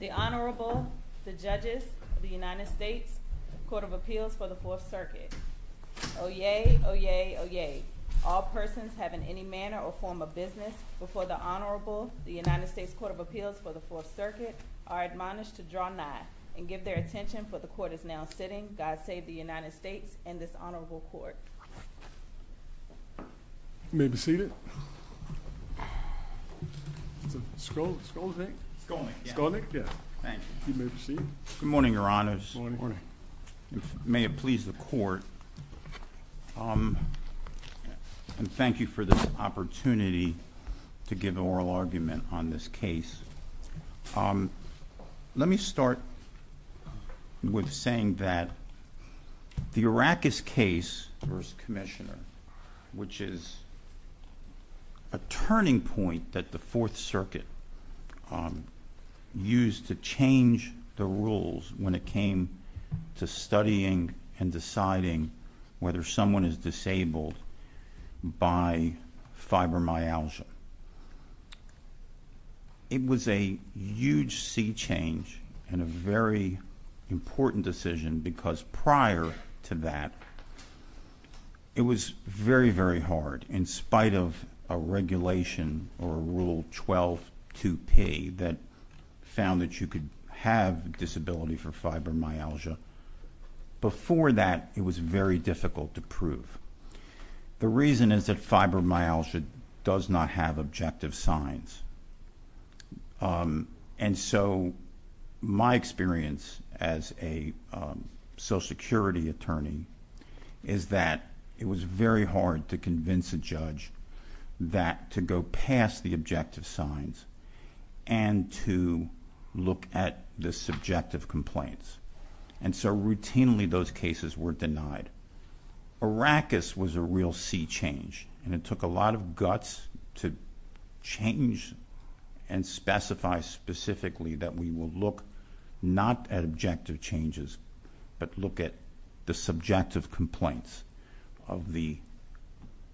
The Honorable, the Judges of the United States Court of Appeals for the Fourth Circuit. Oyez, oyez, oyez. All persons have in any manner or form of business before the Honorable, the United States Court of Appeals for the Fourth Circuit, are admonished to draw nigh and give their attention for the Court is now sitting. God save the United States and this Honorable Court. You may be seated. Good morning, Your Honors. May it please the Court. Thank you for this opportunity to give an oral argument on this case. Let me start with saying that the Arrakis case v. Commissioner, which is a turning point that the Fourth Circuit used to change the rules when it came to studying and deciding whether someone is disabled by fibromyalgia. It was a huge sea change and a very important decision because prior to that, it was very, very hard in spite of a regulation or a Rule 12-2P that found that you could have a disability for fibromyalgia. Before that, it was very difficult to prove. The reason is that fibromyalgia does not have objective signs and so my experience as a Social Security attorney is that it was very hard to convince a judge that to go past the objective signs and to look at the subjective complaints. Routinely, those cases were denied. Arrakis was a real sea change and it took a lot of guts to change and specify specifically that we will look not at objective changes but look at the subjective complaints of the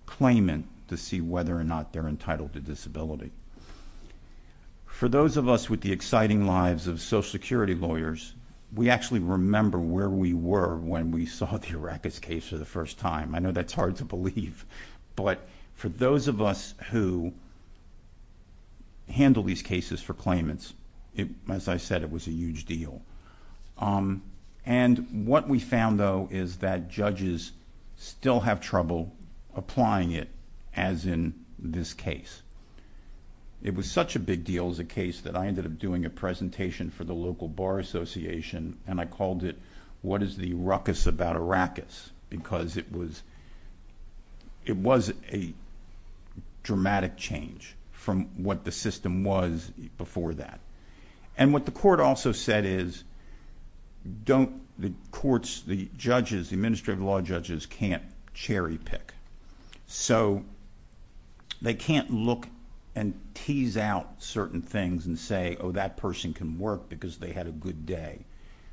claimant to see whether or not they are entitled to disability. For those of us with the exciting lives of Social Security lawyers, we actually remember where we were when we saw the Arrakis case for the first time. I know that's hard to believe but for those of us who handle these cases for claimants, as I said, it was a huge deal. What we found though is that judges still have trouble applying it as in this case. It was such a big deal as a case that I ended up doing a presentation for the local bar association and I called it, what is the ruckus about Arrakis because it was a dramatic change from what the system was before that. What the court also said is the administrative law judges can't cherry pick. They can't look and tease out certain things and say that person can work because they had a good day.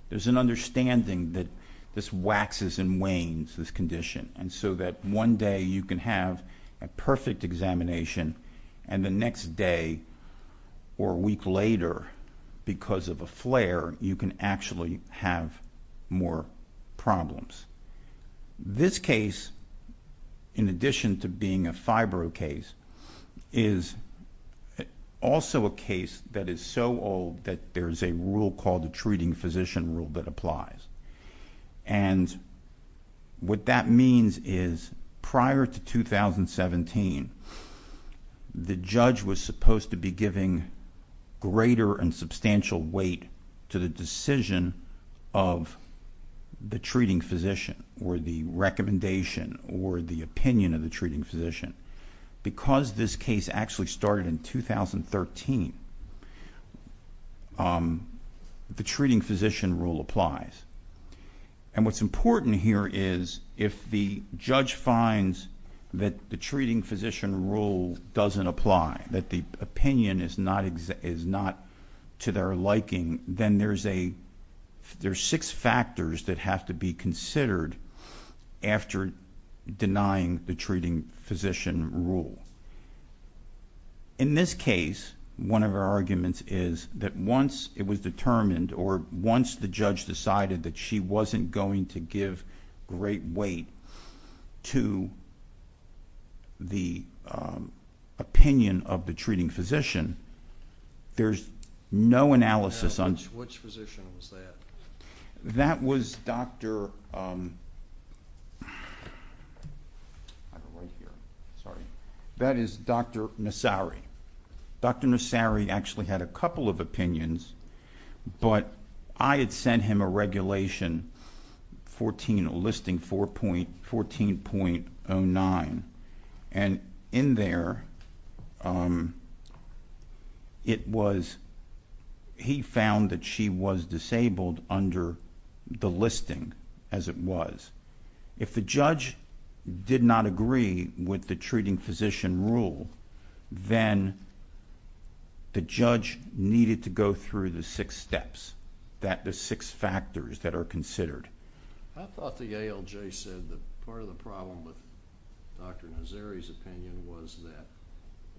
There's an understanding that this waxes and wanes, this condition, and so that one day you can have a perfect examination and the next day or week later because of a flare, you can actually have more problems. This case, in addition to being a FIBRO case, is also a case that is so old that there's a rule called the treating physician rule that applies. What that means is prior to 2017, the judge was supposed to be giving greater and substantial weight to the decision of the treating physician or the recommendation or the opinion of the treating physician. Because this case actually started in 2013, the treating physician rule applies. What's important here is if the judge finds that the treating physician rule doesn't apply, that the opinion is not to their liking, then there's six factors that have to be considered after denying the treating physician rule. In this case, one of our arguments is that once it was determined or once the judge decided that she wasn't going to give great weight to the opinion of the treating physician, there's no analysis. Which physician was that? That was Dr. Nassari. Dr. Nassari actually had a couple of opinions, but I had sent him a regulation listing 14.09. In there, he found that she was disabled under the listing as it was. If the judge did not agree with the treating physician rule, then the judge needed to go through the six steps, the six factors that are considered. I thought the ALJ said that part of the problem with Dr. Nassari's opinion was that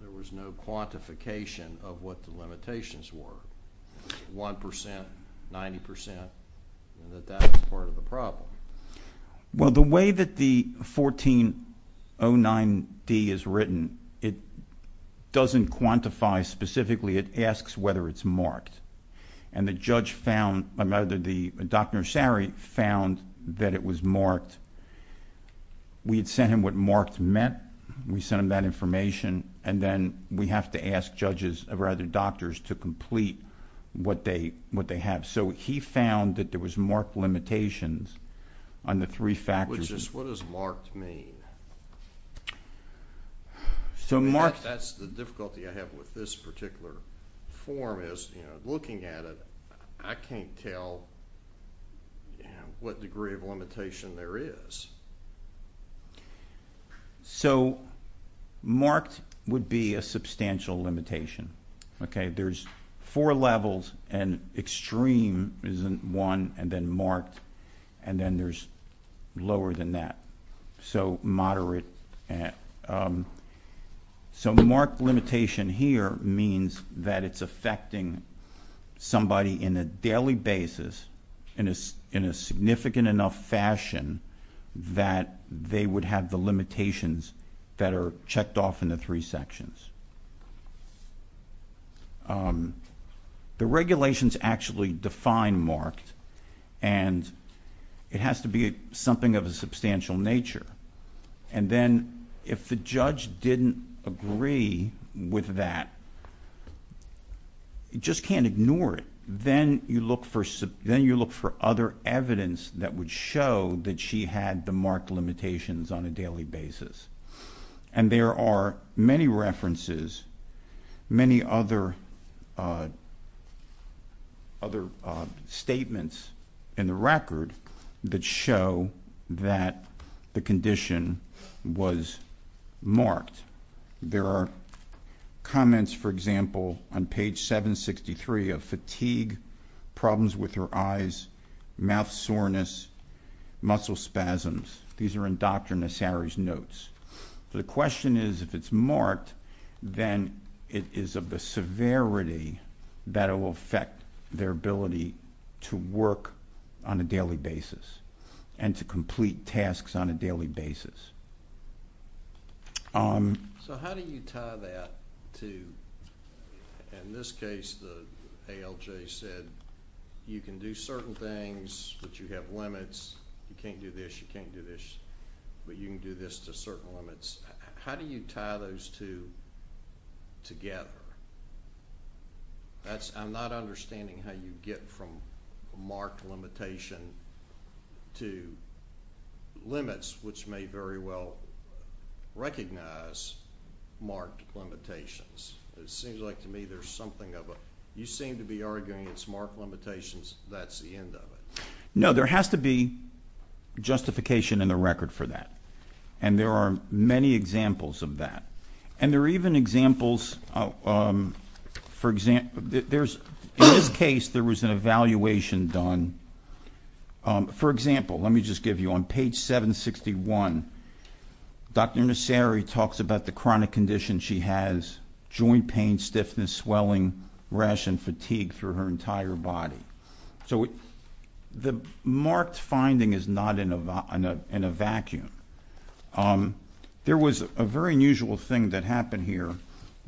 there was no quantification of what the limitations were. One percent, 90 percent, that that was part of the problem. Well, the way that the 14.09.D is written, it doesn't quantify specifically. It asks whether it's marked. And the judge found, or rather, Dr. Nassari found that it was marked. We had sent him what marked meant. We sent him that information, and then we have to ask judges, or rather doctors, to complete what they have. He found that there was marked limitations on the three factors. What does marked mean? That's the difficulty I have with this particular form, is looking at it, I can't tell what degree of limitation there is. Marked would be a substantial limitation. There's four levels, and extreme is one, and then marked, and then there's lower than that. Moderate. Marked limitation here means that it's affecting somebody in a daily basis, in a significant enough fashion, that they would have the limitations that are checked off in the three sections. The regulations actually define marked, and it has to be something of a substantial nature. And then if the judge didn't agree with that, you just can't ignore it. Then you look for other evidence that would show that she had the marked limitations on a daily basis. And there are many references, many other statements in the record that show that the condition was marked. There are comments, for example, on page 763 of fatigue, problems with her eyes, mouth soreness, muscle spasms. These are in Dr. Nassari's notes. The question is, if it's marked, then it is of the severity that it will affect their ability to work on a daily basis and to complete tasks on a daily basis. So how do you tie that to, in this case, the ALJ said, you can do certain things, but you have limits. You can't do this, you can't do this, but you can do this to certain limits. How do you tie those two together? I'm not understanding how you get from marked limitation to limits, which may very well recognize marked limitations. It seems like to me there's something of a, you seem to be arguing it's marked limitations, that's the end of it. No, there has to be justification in the record for that. And there are many examples of that. And there are even examples, for example, in this case, there was an evaluation done. For example, let me just give you, on page 761, Dr. Nassari talks about the chronic condition she has, joint pain, stiffness, swelling, rash, and fatigue through her entire body. So the marked finding is not in a vacuum. There was a very unusual thing that happened here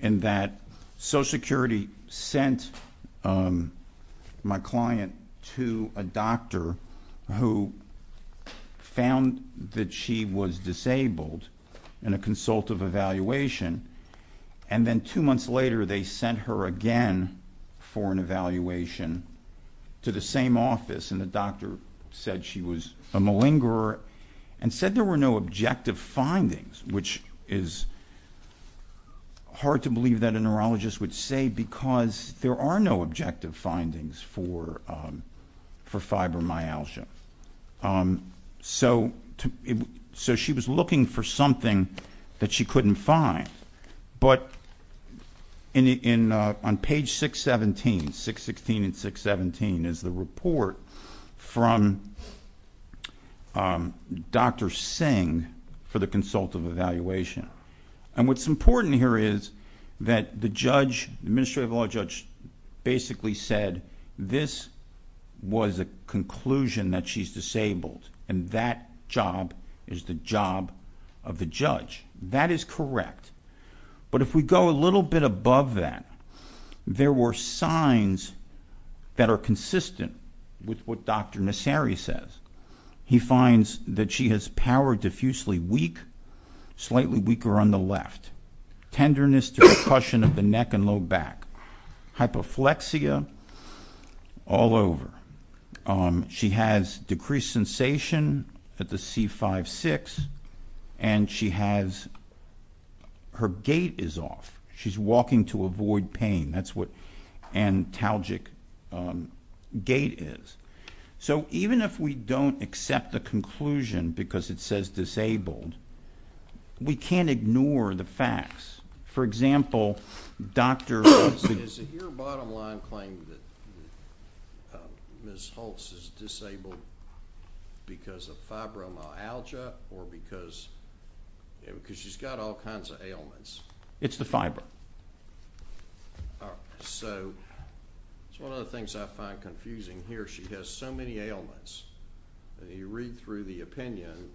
in that Social Security sent my client to a doctor who found that she was disabled in a consultative evaluation, and then two months later they sent her again for an evaluation to the same office, and the doctor said she was a malingerer and said there were no objective findings, which is hard to believe that a neurologist would say because there are no objective findings for fibromyalgia. So she was looking for something that she couldn't find. But on page 617, 616 and 617, is the report from Dr. Singh for the consultative evaluation. And what's important here is that the judge, the administrative law judge, basically said this was a conclusion that she's disabled, and that job is the job of the judge. That is correct. But if we go a little bit above that, there were signs that are consistent with what Dr. Nassari says. He finds that she has power diffusely weak, slightly weaker on the left, tenderness to percussion of the neck and low back, hypoflexia all over. She has decreased sensation at the C5-6, and her gait is off. She's walking to avoid pain. That's what antalgic gait is. So even if we don't accept the conclusion because it says disabled, we can't ignore the facts. For example, Dr. – Is it your bottom line claim that Ms. Holtz is disabled because of fibromyalgia, or because she's got all kinds of ailments? It's the fiber. So that's one of the things I find confusing here. She has so many ailments. You read through the opinion.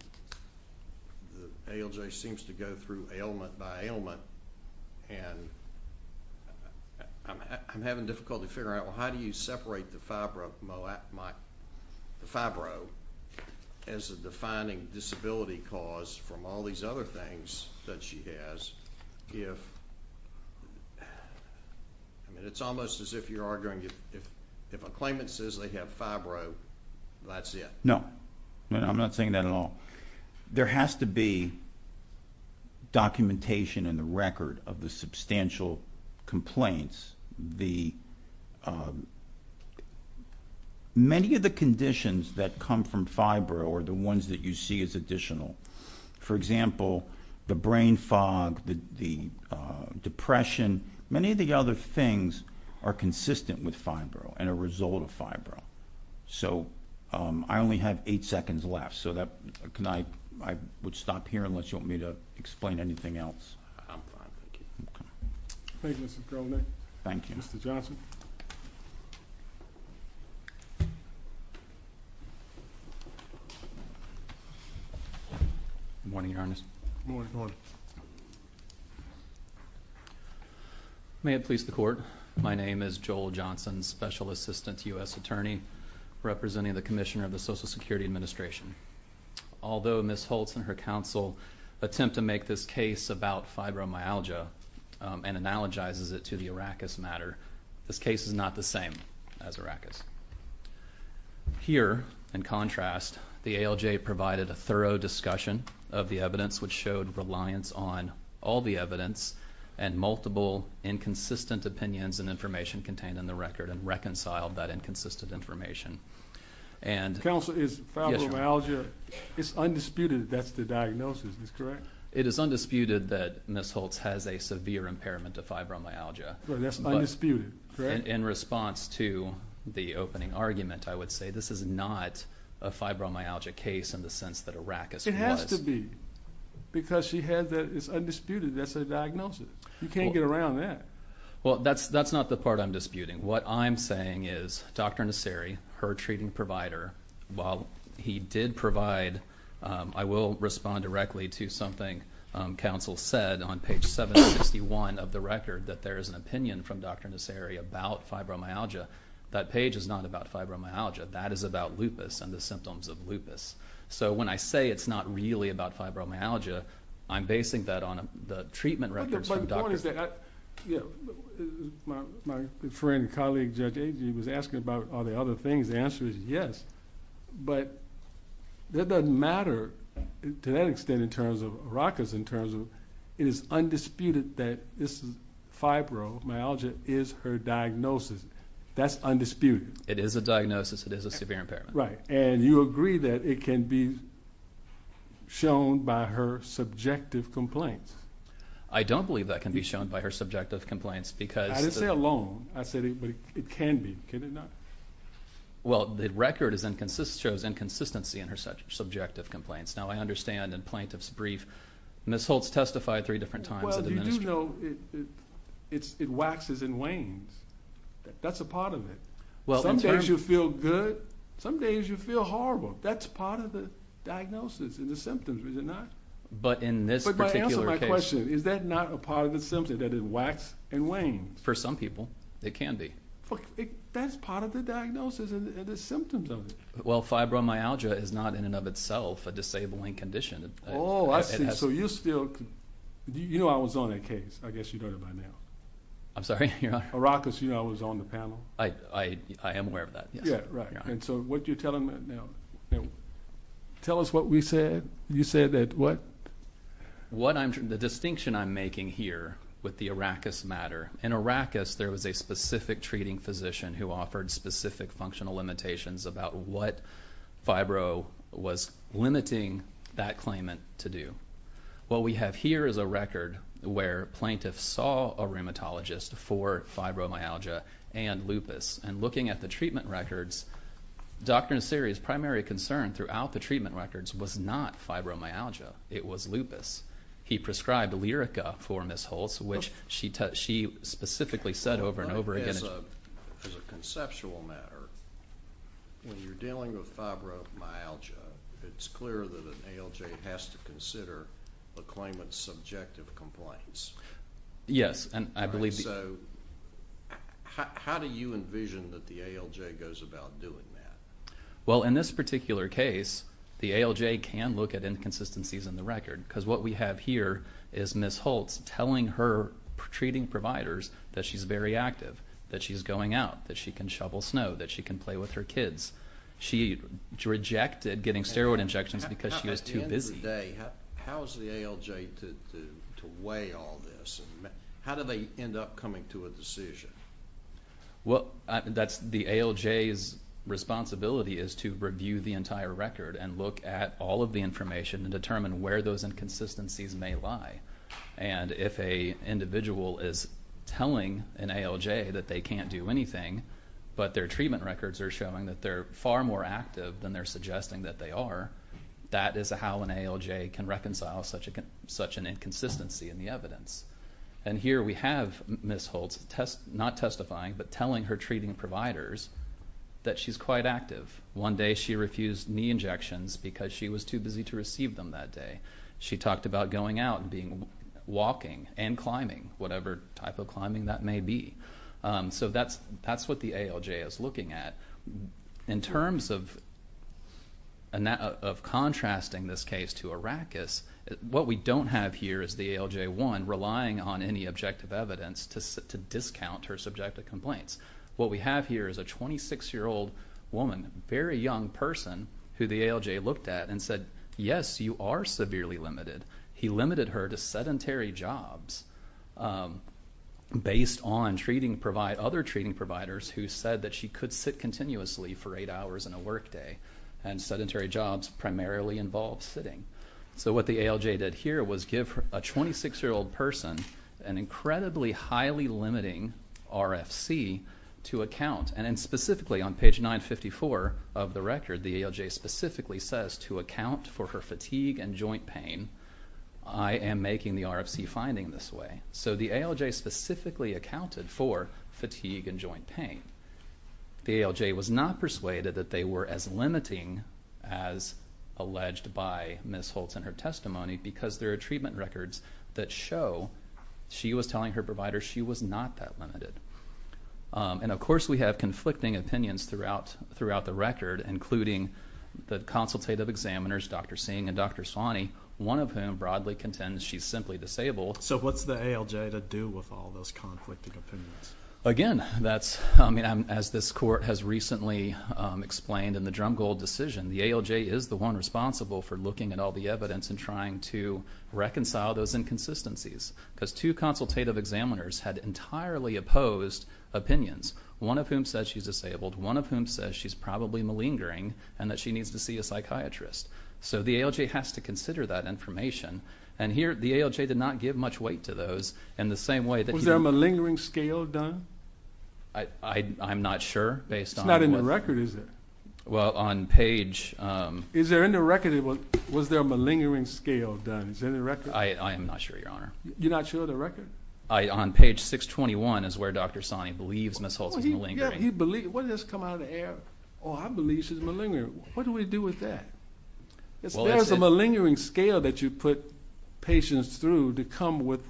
The ALJ seems to go through ailment by ailment, and I'm having difficulty figuring out, well, how do you separate the fibro as a defining disability cause from all these other things that she has if – It's almost as if you're arguing if a claimant says they have fibro, that's it. No. I'm not saying that at all. There has to be documentation in the record of the substantial complaints. Many of the conditions that come from fibro are the ones that you see as additional. For example, the brain fog, the depression, many of the other things are consistent with fibro and a result of fibro. So I only have eight seconds left, so I would stop here unless you want me to explain anything else. I'm fine, thank you. Thank you, Mr. Cronin. Thank you. Mr. Johnson. Good morning, Your Honor. Good morning. May it please the Court. My name is Joel Johnson, Special Assistant to U.S. Attorney, representing the Commissioner of the Social Security Administration. Although Ms. Holtz and her counsel attempt to make this case about fibromyalgia and analogizes it to the Arrakis matter, this case is not the same as Arrakis. Here, in contrast, the ALJ provided a thorough discussion of the evidence which showed reliance on all the evidence and multiple inconsistent opinions and information contained in the record and reconciled that inconsistent information. Counsel, is fibromyalgia, it's undisputed that's the diagnosis, is this correct? It is undisputed that Ms. Holtz has a severe impairment to fibromyalgia. That's undisputed, correct? In response to the opening argument, I would say this is not a fibromyalgia case in the sense that Arrakis was. It has to be because she has that it's undisputed that's a diagnosis. You can't get around that. Well, that's not the part I'm disputing. What I'm saying is Dr. Nasseri, her treating provider, while he did provide, I will respond directly to something counsel said on page 761 of the record, that there is an opinion from Dr. Nasseri about fibromyalgia. That page is not about fibromyalgia. That is about lupus and the symptoms of lupus. So when I say it's not really about fibromyalgia, I'm basing that on the treatment records from Dr. Nasseri. My point is that my friend and colleague, Judge Agee, was asking about all the other things. The answer is yes, but that doesn't matter to that extent in terms of Arrakis, in terms of it is undisputed that this fibromyalgia is her diagnosis. That's undisputed. It is a diagnosis. It is a severe impairment. Right. And you agree that it can be shown by her subjective complaints. I don't believe that can be shown by her subjective complaints. I didn't say alone. I said it can be. Can it not? Well, the record shows inconsistency in her subjective complaints. Now, I understand in plaintiff's brief Ms. Holtz testified three different times. Well, you do know it waxes and wanes. That's a part of it. Some days you feel good. Some days you feel horrible. That's part of the diagnosis and the symptoms, is it not? But in this particular case. But answer my question. Is that not a part of the symptoms, that it waxes and wanes? For some people it can be. That's part of the diagnosis and the symptoms of it. Well, fibromyalgia is not in and of itself a disabling condition. Oh, I see. So you still could. You know I was on that case. I guess you know it by now. I'm sorry? Your Honor. Arrakis, you know, was on the panel. I am aware of that, yes. Yeah, right. And so what you're telling me now. Tell us what we said. You said that what? The distinction I'm making here with the Arrakis matter. In Arrakis there was a specific treating physician who offered specific functional limitations about what fibro was limiting that claimant to do. What we have here is a record where plaintiffs saw a rheumatologist for fibromyalgia and lupus. And looking at the treatment records, Dr. Nasiri's primary concern throughout the treatment records was not fibromyalgia. It was lupus. He prescribed Lyrica for Ms. Holtz, which she specifically said over and over again. As a conceptual matter, when you're dealing with fibromyalgia, it's clear that an ALJ has to consider the claimant's subjective complaints. Yes, and I believe. So how do you envision that the ALJ goes about doing that? Well, in this particular case, the ALJ can look at inconsistencies in the record because what we have here is Ms. Holtz telling her treating providers that she's very active, that she's going out, that she can shovel snow, that she can play with her kids. She rejected getting steroid injections because she was too busy. At the end of the day, how is the ALJ to weigh all this? How do they end up coming to a decision? Well, the ALJ's responsibility is to review the entire record and look at all of the information and determine where those inconsistencies may lie. If an individual is telling an ALJ that they can't do anything but their treatment records are showing that they're far more active than they're suggesting that they are, that is how an ALJ can reconcile such an inconsistency in the evidence. Here we have Ms. Holtz not testifying but telling her treating providers that she's quite active. One day she refused knee injections because she was too busy to receive them that day. She talked about going out and walking and climbing, whatever type of climbing that may be. So that's what the ALJ is looking at. In terms of contrasting this case to Arrakis, what we don't have here is the ALJ 1 relying on any objective evidence to discount her subjective complaints. What we have here is a 26-year-old woman, a very young person who the ALJ looked at and said, yes, you are severely limited. He limited her to sedentary jobs based on other treating providers who said that she could sit continuously for 8 hours on a workday, and sedentary jobs primarily involve sitting. So what the ALJ did here was give a 26-year-old person an incredibly highly limiting RFC to account. And specifically on page 954 of the record, the ALJ specifically says to account for her fatigue and joint pain, I am making the RFC finding this way. So the ALJ specifically accounted for fatigue and joint pain. The ALJ was not persuaded that they were as limiting as alleged by Ms. Holtz in her testimony because there are treatment records that show she was telling her provider she was not that limited. And, of course, we have conflicting opinions throughout the record, including the consultative examiners, Dr. Singh and Dr. Sawney, one of whom broadly contends she's simply disabled. So what's the ALJ to do with all those conflicting opinions? Again, as this court has recently explained in the Drumgold decision, the ALJ is the one responsible for looking at all the evidence and trying to reconcile those inconsistencies because two consultative examiners had entirely opposed opinions, one of whom says she's disabled, one of whom says she's probably malingering and that she needs to see a psychiatrist. So the ALJ has to consider that information. And here the ALJ did not give much weight to those in the same way that... Was there a malingering scale done? I'm not sure based on... It's not in the record, is it? Well, on page... Is there in the record? Was there a malingering scale done? Is it in the record? I am not sure, Your Honor. You're not sure of the record? On page 621 is where Dr. Sawney believes Ms. Holtz is malingering. Yeah, he believes. What, did this come out of the air? Oh, I believe she's malingering. What do we do with that? There's a malingering scale that you put patients through to come with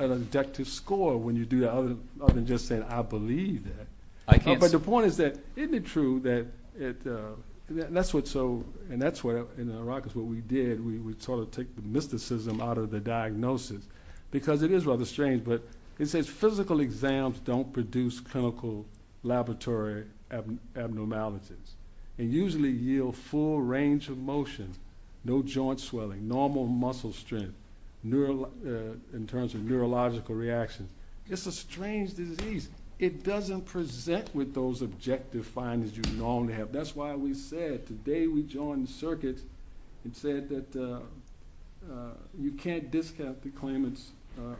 an objective score when you do that other than just saying I believe that. But the point is that isn't it true that... That's what so... And that's what in the Rockets what we did. We sort of took the mysticism out of the diagnosis because it is rather strange. But it says physical exams don't produce clinical laboratory abnormalities and usually yield full range of motion, no joint swelling, normal muscle strength, in terms of neurological reaction. It's a strange disease. It doesn't present with those objective findings you normally have. That's why we said today we joined the circuit and said that you can't discount the claimant's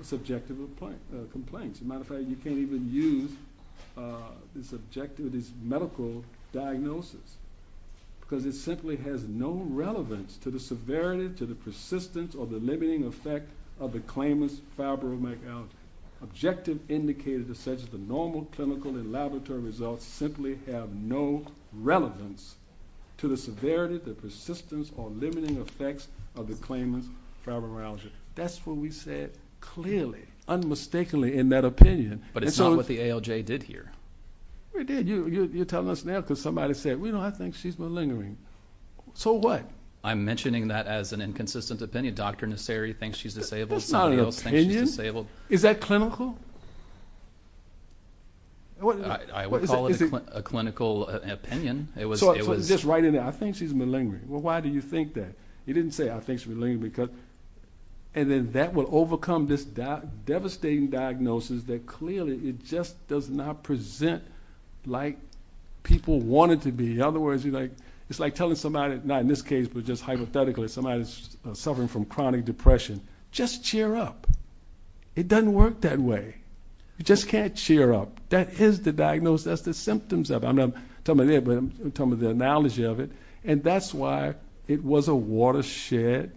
subjective complaints. As a matter of fact, you can't even use this medical diagnosis because it simply has no relevance to the severity, to the persistence, or the limiting effect of the claimant's fibromyalgia. Objective indicators such as the normal clinical and laboratory results simply have no relevance to the severity, the persistence, or limiting effects of the claimant's fibromyalgia. That's what we said clearly, unmistakably in that opinion. But it's not what the ALJ did here. It did. You're telling us now because somebody said, I think she's malingering. So what? I'm mentioning that as an inconsistent opinion. Dr. Nasseri thinks she's disabled. That's not an opinion. Somebody else thinks she's disabled. Is that clinical? I would call it a clinical opinion. It was just right in there. I think she's malingering. Well, why do you think that? He didn't say, I think she's malingering. And then that will overcome this devastating diagnosis that clearly it just does not present like people want it to be. In other words, it's like telling somebody, not in this case, but just hypothetically, somebody that's suffering from chronic depression, just cheer up. It doesn't work that way. You just can't cheer up. That is the diagnosis. That's the symptoms of it. I'm not talking about that, but I'm talking about the analogy of it. And that's why it was a watershed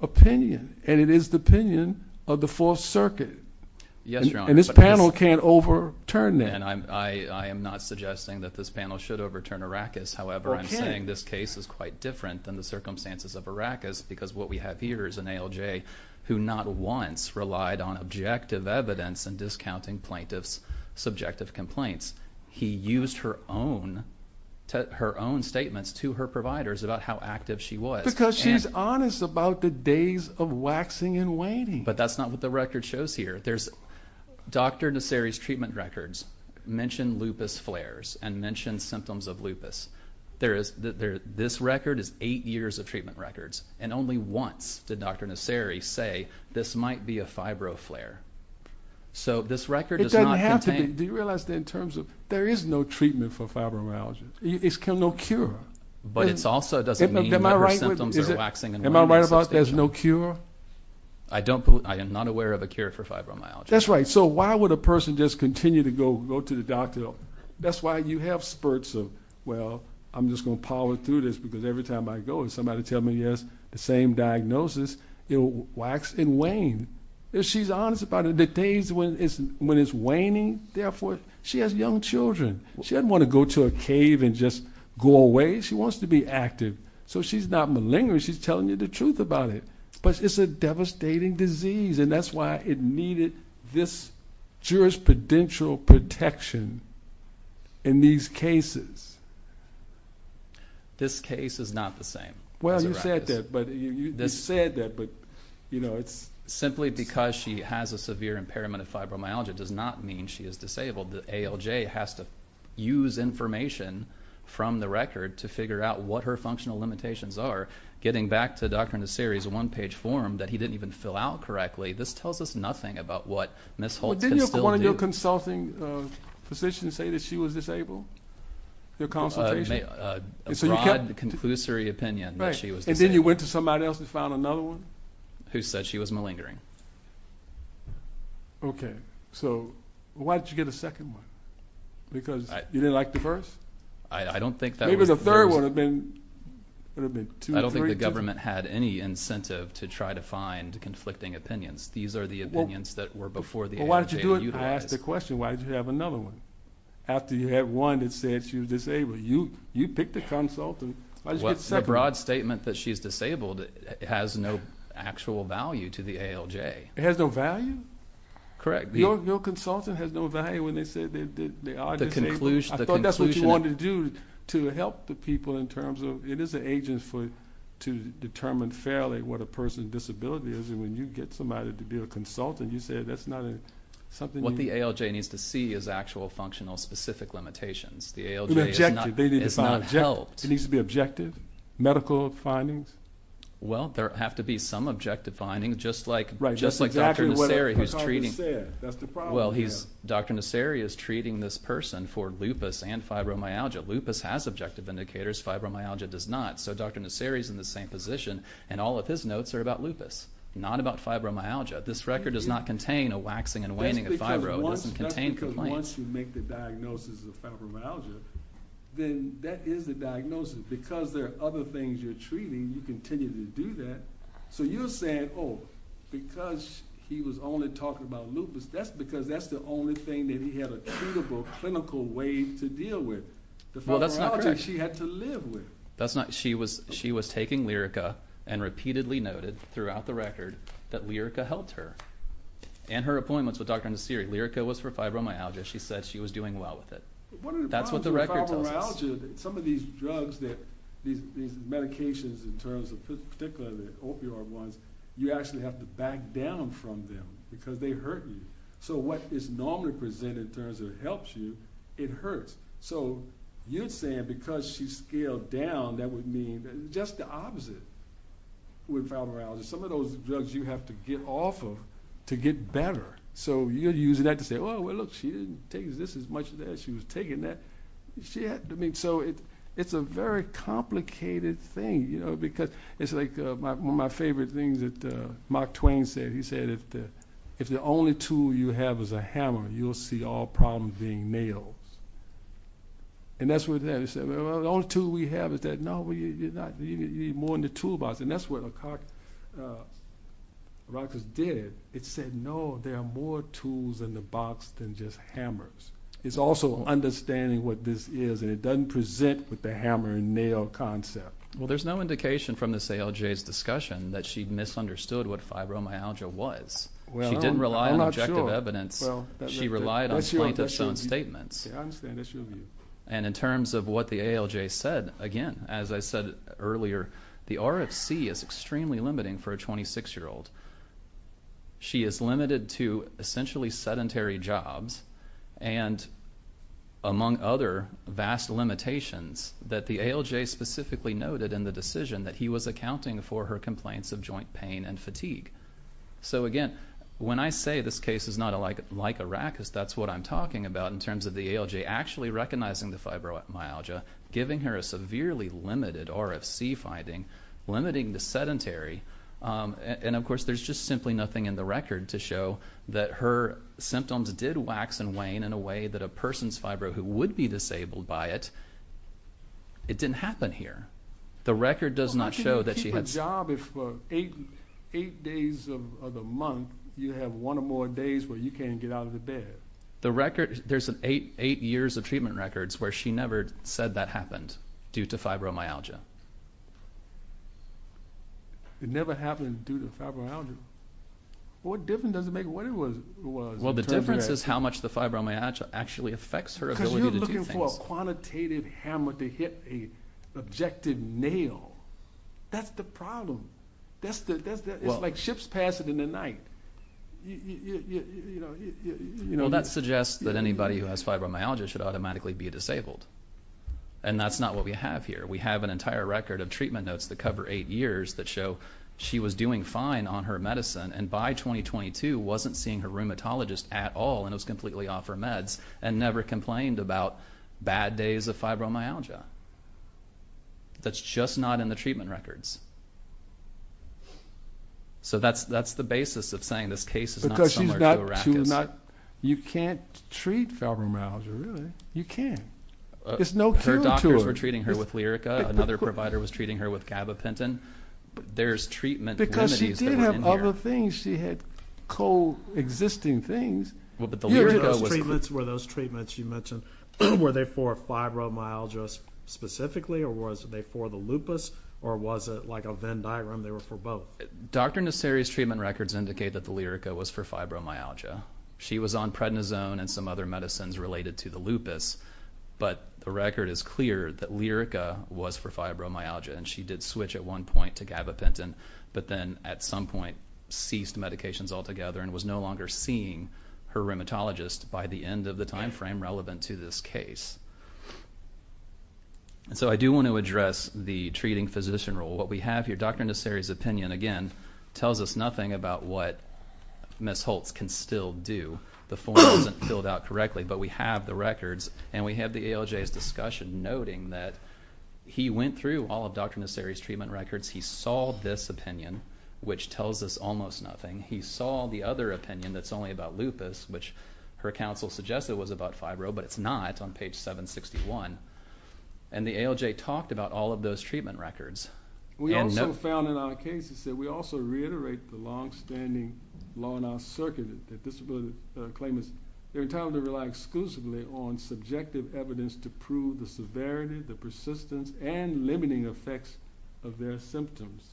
opinion. And it is the opinion of the Fourth Circuit. Yes, Your Honor. And this panel can't overturn that. I am not suggesting that this panel should overturn Arrakis. However, I'm saying this case is quite different than the circumstances of Arrakis because what we have here is an ALJ who not once relied on objective evidence in discounting plaintiffs' subjective complaints. He used her own statements to her providers about how active she was. Because she's honest about the days of waxing and waning. But that's not what the record shows here. Dr. Nasseri's treatment records mention lupus flares and mention symptoms of lupus. This record is eight years of treatment records, and only once did Dr. Nasseri say this might be a fibro flare. So this record does not contain... It doesn't have to be. Do you realize that in terms of there is no treatment for fibromyalgia? There's no cure. But it also doesn't mean that her symptoms are waxing and waning. Am I right about there's no cure? I am not aware of a cure for fibromyalgia. That's right. So why would a person just continue to go to the doctor? That's why you have spurts of, well, I'm just going to power through this because every time I go and somebody tells me he has the same diagnosis, wax and wane. She's honest about it. The days when it's waning, therefore, she has young children. She doesn't want to go to a cave and just go away. She wants to be active. So she's not malingering. She's telling you the truth about it. But it's a devastating disease, and that's why it needed this jurisprudential protection in these cases. This case is not the same. Well, you said that, but, you know, it's... Simply because she has a severe impairment of fibromyalgia does not mean she is disabled. The ALJ has to use information from the record to figure out what her functional limitations are. Getting back to Dr. Nasseri's one-page form that he didn't even fill out correctly, this tells us nothing about what Ms. Holtz can still do. Didn't one of your consulting physicians say that she was disabled? Your consultation? A broad, conclusory opinion that she was disabled. And then you went to somebody else and found another one? Who said she was malingering. Okay. So why did you get a second one? Because you didn't like the first? I don't think that was the reason. Maybe the third would have been two or three. I don't think the government had any incentive to try to find conflicting opinions. These are the opinions that were before the ALJ utilized. I asked the question, why did you have another one? After you had one that said she was disabled. You picked a consultant. The broad statement that she's disabled has no actual value to the ALJ. It has no value? Correct. Your consultant has no value when they say they are disabled. I thought that's what you wanted to do to help the people in terms of it is an agent to determine fairly what a person's disability is. And when you get somebody to be a consultant, you say that's not something you need. What the ALJ needs to see is actual functional specific limitations. The ALJ is not helped. It needs to be objective? Medical findings? Well, there have to be some objective findings, just like Dr. Nasseri is treating this person for lupus and fibromyalgia. Lupus has objective indicators. Fibromyalgia does not. So Dr. Nasseri is in the same position. And all of his notes are about lupus, not about fibromyalgia. This record does not contain a waxing and waning of fibro. It doesn't contain complaints. That's because once you make the diagnosis of fibromyalgia, then that is the diagnosis. Because there are other things you're treating, you continue to do that. So you're saying, oh, because he was only talking about lupus, that's because that's the only thing that he had a treatable, clinical way to deal with. The fibromyalgia she had to live with. That's not correct. She was taking Lyrica and repeatedly noted throughout the record that Lyrica helped her. And her appointments with Dr. Nasseri, Lyrica was for fibromyalgia. She said she was doing well with it. That's what the record tells us. some of these drugs, these medications in terms of, particularly the opioid ones, you actually have to back down from them because they hurt you. So what is normally presented in terms of it helps you, it hurts. So you're saying because she scaled down, that would mean just the opposite with fibromyalgia. Some of those drugs you have to get off of to get better. So you're using that to say, oh, well, look, she didn't take this as much as that. She was taking that. So it's a very complicated thing. Because it's like one of my favorite things that Mark Twain said. He said, if the only tool you have is a hammer, you'll see all problems being nailed. And that's what that is. The only tool we have is that, no, you need more than the tool box. And that's what the record did. It said, no, there are more tools in the box than just hammers. It's also understanding what this is, and it doesn't present with the hammer and nail concept. Well, there's no indication from this ALJ's discussion that she misunderstood what fibromyalgia was. She didn't rely on objective evidence. She relied on plaintiff's own statements. And in terms of what the ALJ said, again, as I said earlier, the RFC is extremely limiting for a 26-year-old. She is limited to essentially sedentary jobs, and, among other vast limitations, that the ALJ specifically noted in the decision that he was accounting for her complaints of joint pain and fatigue. So, again, when I say this case is not like a rack, that's what I'm talking about in terms of the ALJ actually recognizing the fibromyalgia, giving her a severely limited RFC finding, limiting to sedentary. And, of course, there's just simply nothing in the record to show that her symptoms did wax and wane in a way that a person's fibro who would be disabled by it, it didn't happen here. The record does not show that she had... Well, how can you keep a job if for 8 days of the month you have one or more days where you can't get out of the bed? The record, there's 8 years of treatment records where she never said that happened due to fibromyalgia. It never happened due to fibromyalgia? What difference does it make what it was? Well, the difference is how much the fibromyalgia actually affects her ability to do things. Because you're looking for a quantitative hammer to hit an objective nail. That's the problem. It's like ships passing in the night. That suggests that anybody who has fibromyalgia should automatically be disabled. And that's not what we have here. We have an entire record of treatment notes that cover 8 years that show she was doing fine on her medicine and by 2022 wasn't seeing her rheumatologist at all and was completely off her meds and never complained about bad days of fibromyalgia. That's just not in the treatment records. So that's the basis of saying this case is not similar to a racket. Because you can't treat fibromyalgia, really. You can't. There's no cure to it. Her doctors were treating her with Lyrica. Another provider was treating her with gabapentin. There's treatment remedies that went in here. Because she did have other things. She had co-existing things. Were those treatments you mentioned, were they for fibromyalgia specifically or were they for the lupus or was it like a Venn diagram they were for both? Dr. Nasseri's treatment records indicate that the Lyrica was for fibromyalgia. She was on prednisone and some other medicines related to the lupus. But the record is clear that Lyrica was for fibromyalgia and she did switch at one point to gabapentin, but then at some point ceased medications altogether and was no longer seeing her rheumatologist by the end of the time frame relevant to this case. So I do want to address the treating physician role. What we have here, Dr. Nasseri's opinion, again, tells us nothing about what Ms. Holtz can still do. The form isn't filled out correctly, but we have the records and we have the ALJ's discussion noting that he went through all of Dr. Nasseri's treatment records. He saw this opinion, which tells us almost nothing. He saw the other opinion that's only about lupus, which her counsel suggested was about fibro, but it's not on page 761. And the ALJ talked about all of those treatment records. We also found in our cases that we also reiterate the longstanding law in our circuit that disability claimants are entitled to rely exclusively on subjective evidence to prove the severity, the persistence, and limiting effects of their symptoms.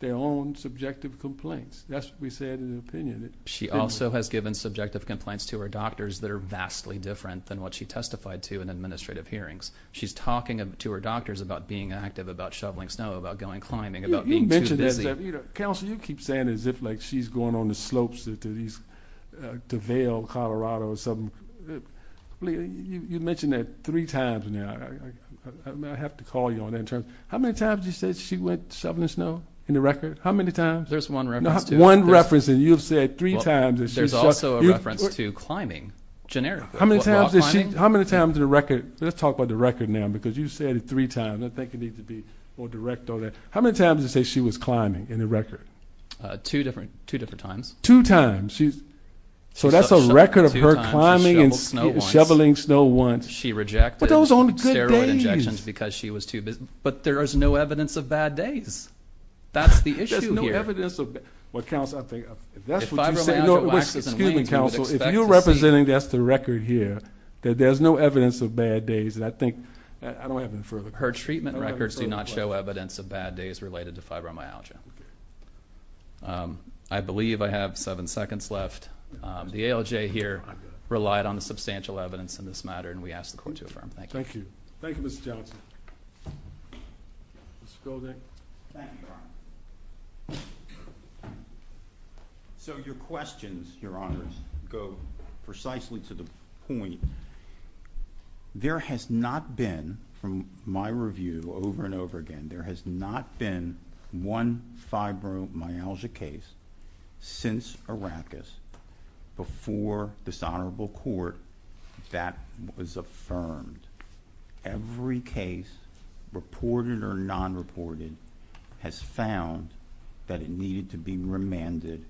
Their own subjective complaints. That's what we said in the opinion. She also has given subjective complaints to her doctors that are vastly different than what she testified to in administrative hearings. She's talking to her doctors about being active, about shoveling snow, about going climbing, about being too busy. Counsel, you keep saying as if, like, she's going on the slopes to Vail, Colorado or something. You mentioned that three times now. May I have to call you on that? How many times did you say she went shoveling snow in the record? How many times? There's one reference to it. One reference, and you've said three times that she's shoveling. There's also a reference to climbing. Generic. How many times in the record? Let's talk about the record now, because you've said it three times. I think it needs to be more direct on that. How many times did you say she was climbing in the record? Two different times. Two times. So that's a record of her climbing and shoveling snow once. She rejected steroid injections because she was too busy. But there is no evidence of bad days. That's the issue here. There's no evidence of bad days. If you're representing, that's the record here, that there's no evidence of bad days. Her treatment records do not show evidence of bad days related to fibromyalgia. I believe I have seven seconds left. The ALJ here relied on the substantial evidence in this matter, and we ask the Court to affirm. Thank you. Thank you. Thank you, Mr. Johnson. Mr. Goldick. Thank you, Your Honor. So your questions, Your Honor, go precisely to the point. There has not been, from my review over and over again, there has not been one fibromyalgia case since Arrakis before this Honorable Court that was affirmed. Every case, reported or non-reported, has found that it needed to be remanded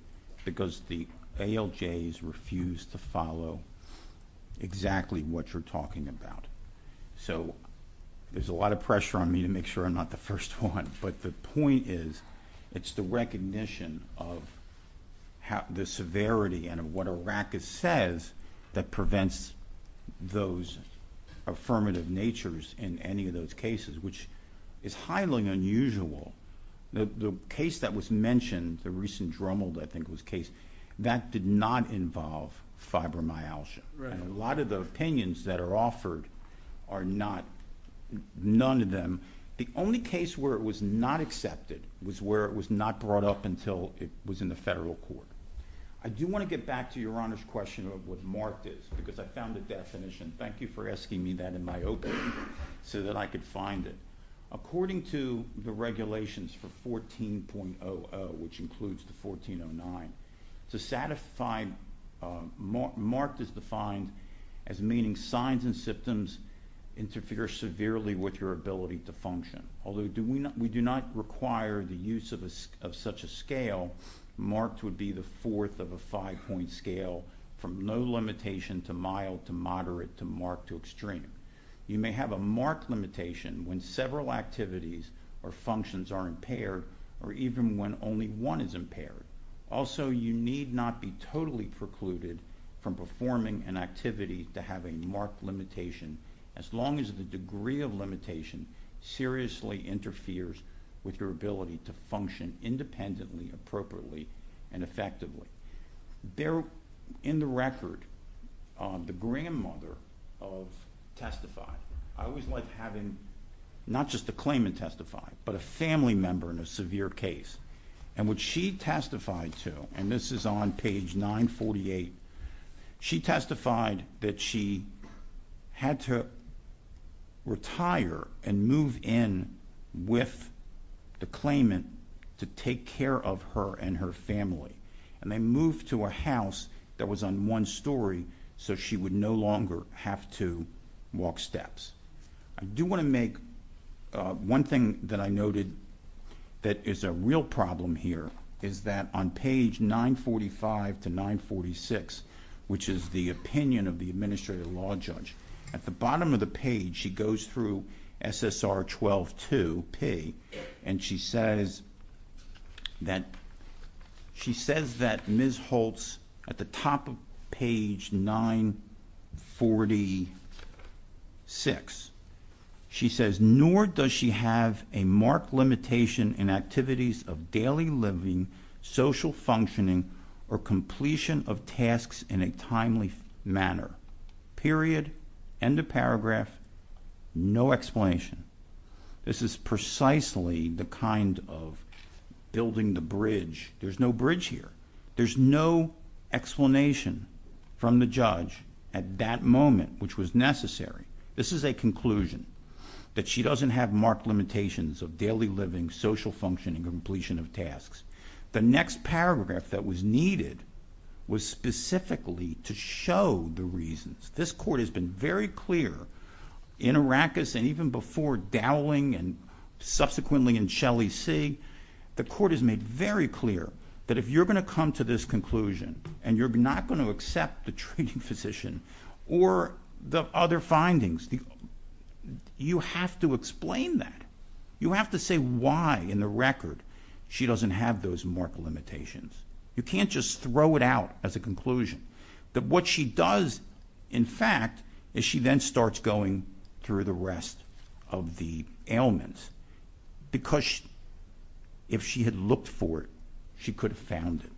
because the ALJs refused to follow exactly what you're talking about. There's a lot of pressure on me to make sure I'm not the first one, but the point is, it's the recognition of the severity and of what Arrakis says that prevents those affirmative natures in any of those cases, which is highly unusual. The case that was mentioned, the recent Drummold, I think, was case, that did not involve fibromyalgia. A lot of the opinions that are offered are not, none of them, the only case where it was not accepted was where it was not brought up until it was in the federal court. I do want to get back to Your Honor's question of what marked is because I found the definition. Thank you for asking me that in my opening so that I could find it. According to the regulations for 14.00, which includes the 14.09, marked is defined as meaning signs and symptoms interfere severely with your ability to function. Although we do not require the use of such a scale, marked would be the fourth of a five-point scale from no limitation to mild to moderate to marked to extreme. You may have a marked limitation when several activities or functions are impaired or even when only one is impaired. Also, you need not be totally precluded from performing an activity to have a marked limitation as long as the degree of limitation seriously interferes with your ability to function independently, appropriately, and effectively. In the record, the grandmother of Testify, I always like having not just a claimant testify, but a family member in a severe case. What she testified to, and this is on page 948, she testified that she had to retire and move in with the claimant to take care of her and her family. They moved to a house that was on one story so she would no longer have to walk steps. I do want to make one thing that I noted that is a real problem here, is that on page 945 to 946, which is the opinion of the administrative law judge, at the bottom of the page she goes through SSR 12-2P and she says that Ms. Holtz at the top of page 946, she says, nor does she have a marked limitation in activities of daily living, social functioning, or completion of tasks in a timely manner. Period. End of paragraph. No explanation. This is precisely the kind of building the bridge. There's no bridge here. There's no explanation from the judge at that moment, which was necessary. This is a conclusion, that she doesn't have marked limitations of daily living, social functioning, or completion of tasks. The next paragraph that was needed was specifically to show the reasons. This court has been very clear in Arrakis and even before Dowling and subsequently in Shelley C., the court has made very clear that if you're going to come to this conclusion and you're not going to accept the treating physician or the other findings, you have to explain that. You have to say why in the record she doesn't have those marked limitations. You can't just throw it out as a conclusion. What she does, in fact, is she then starts going through the rest of the ailments. Because if she had looked for it, she could have found it.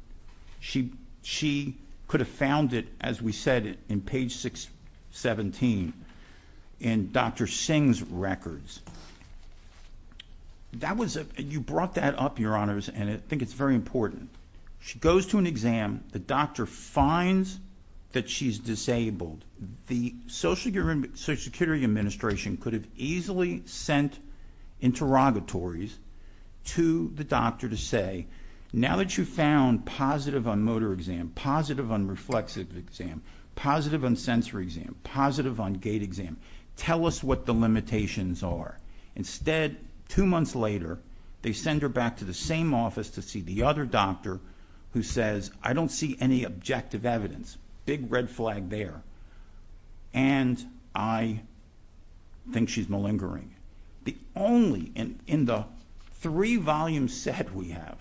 She could have found it, as we said, in page 617 in Dr. Singh's records. You brought that up, Your Honors, and I think it's very important. She goes to an exam. The doctor finds that she's disabled. The Social Security Administration could have easily sent interrogatories to the doctor to say, now that you've found positive on motor exam, positive on reflexive exam, positive on sensory exam, positive on gait exam, tell us what the limitations are. Instead, two months later, they send her back to the same office to see the other doctor who says, I don't see any objective evidence. Big red flag there. And I think she's malingering. In the three-volume set we have,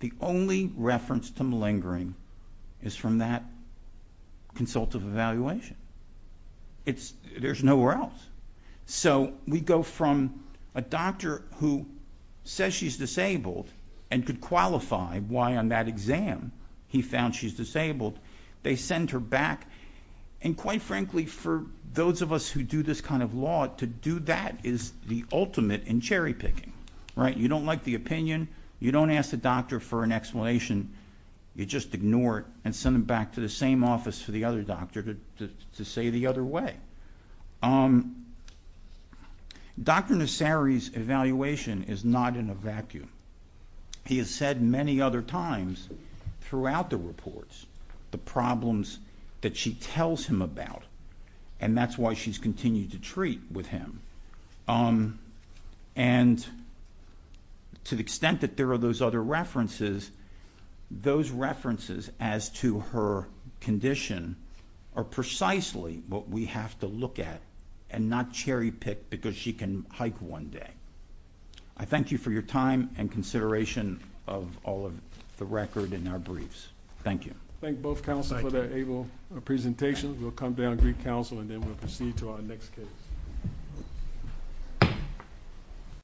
the only reference to malingering is from that consultative evaluation. There's nowhere else. We go from a doctor who says she's disabled and could qualify why on that exam he found she's disabled. They send her back. And quite frankly, for those of us who do this kind of law, to do that is the ultimate in cherry-picking. You don't like the opinion. You don't ask the doctor for an explanation. You just ignore it and send them back to the same office for the other doctor to say the other way. Dr. Nasseri's evaluation is not in a vacuum. He has said many other times throughout the reports the problems that she tells him about, and that's why she's continued to treat with him. And to the extent that there are those other references, those references as to her condition are precisely what we have to look at and not cherry-pick because she can hike one day. I thank you for your time and consideration of all of the record in our briefs. Thank you. Thank both counsel for that able presentation. We'll come down and greet counsel, and then we'll proceed to our next case.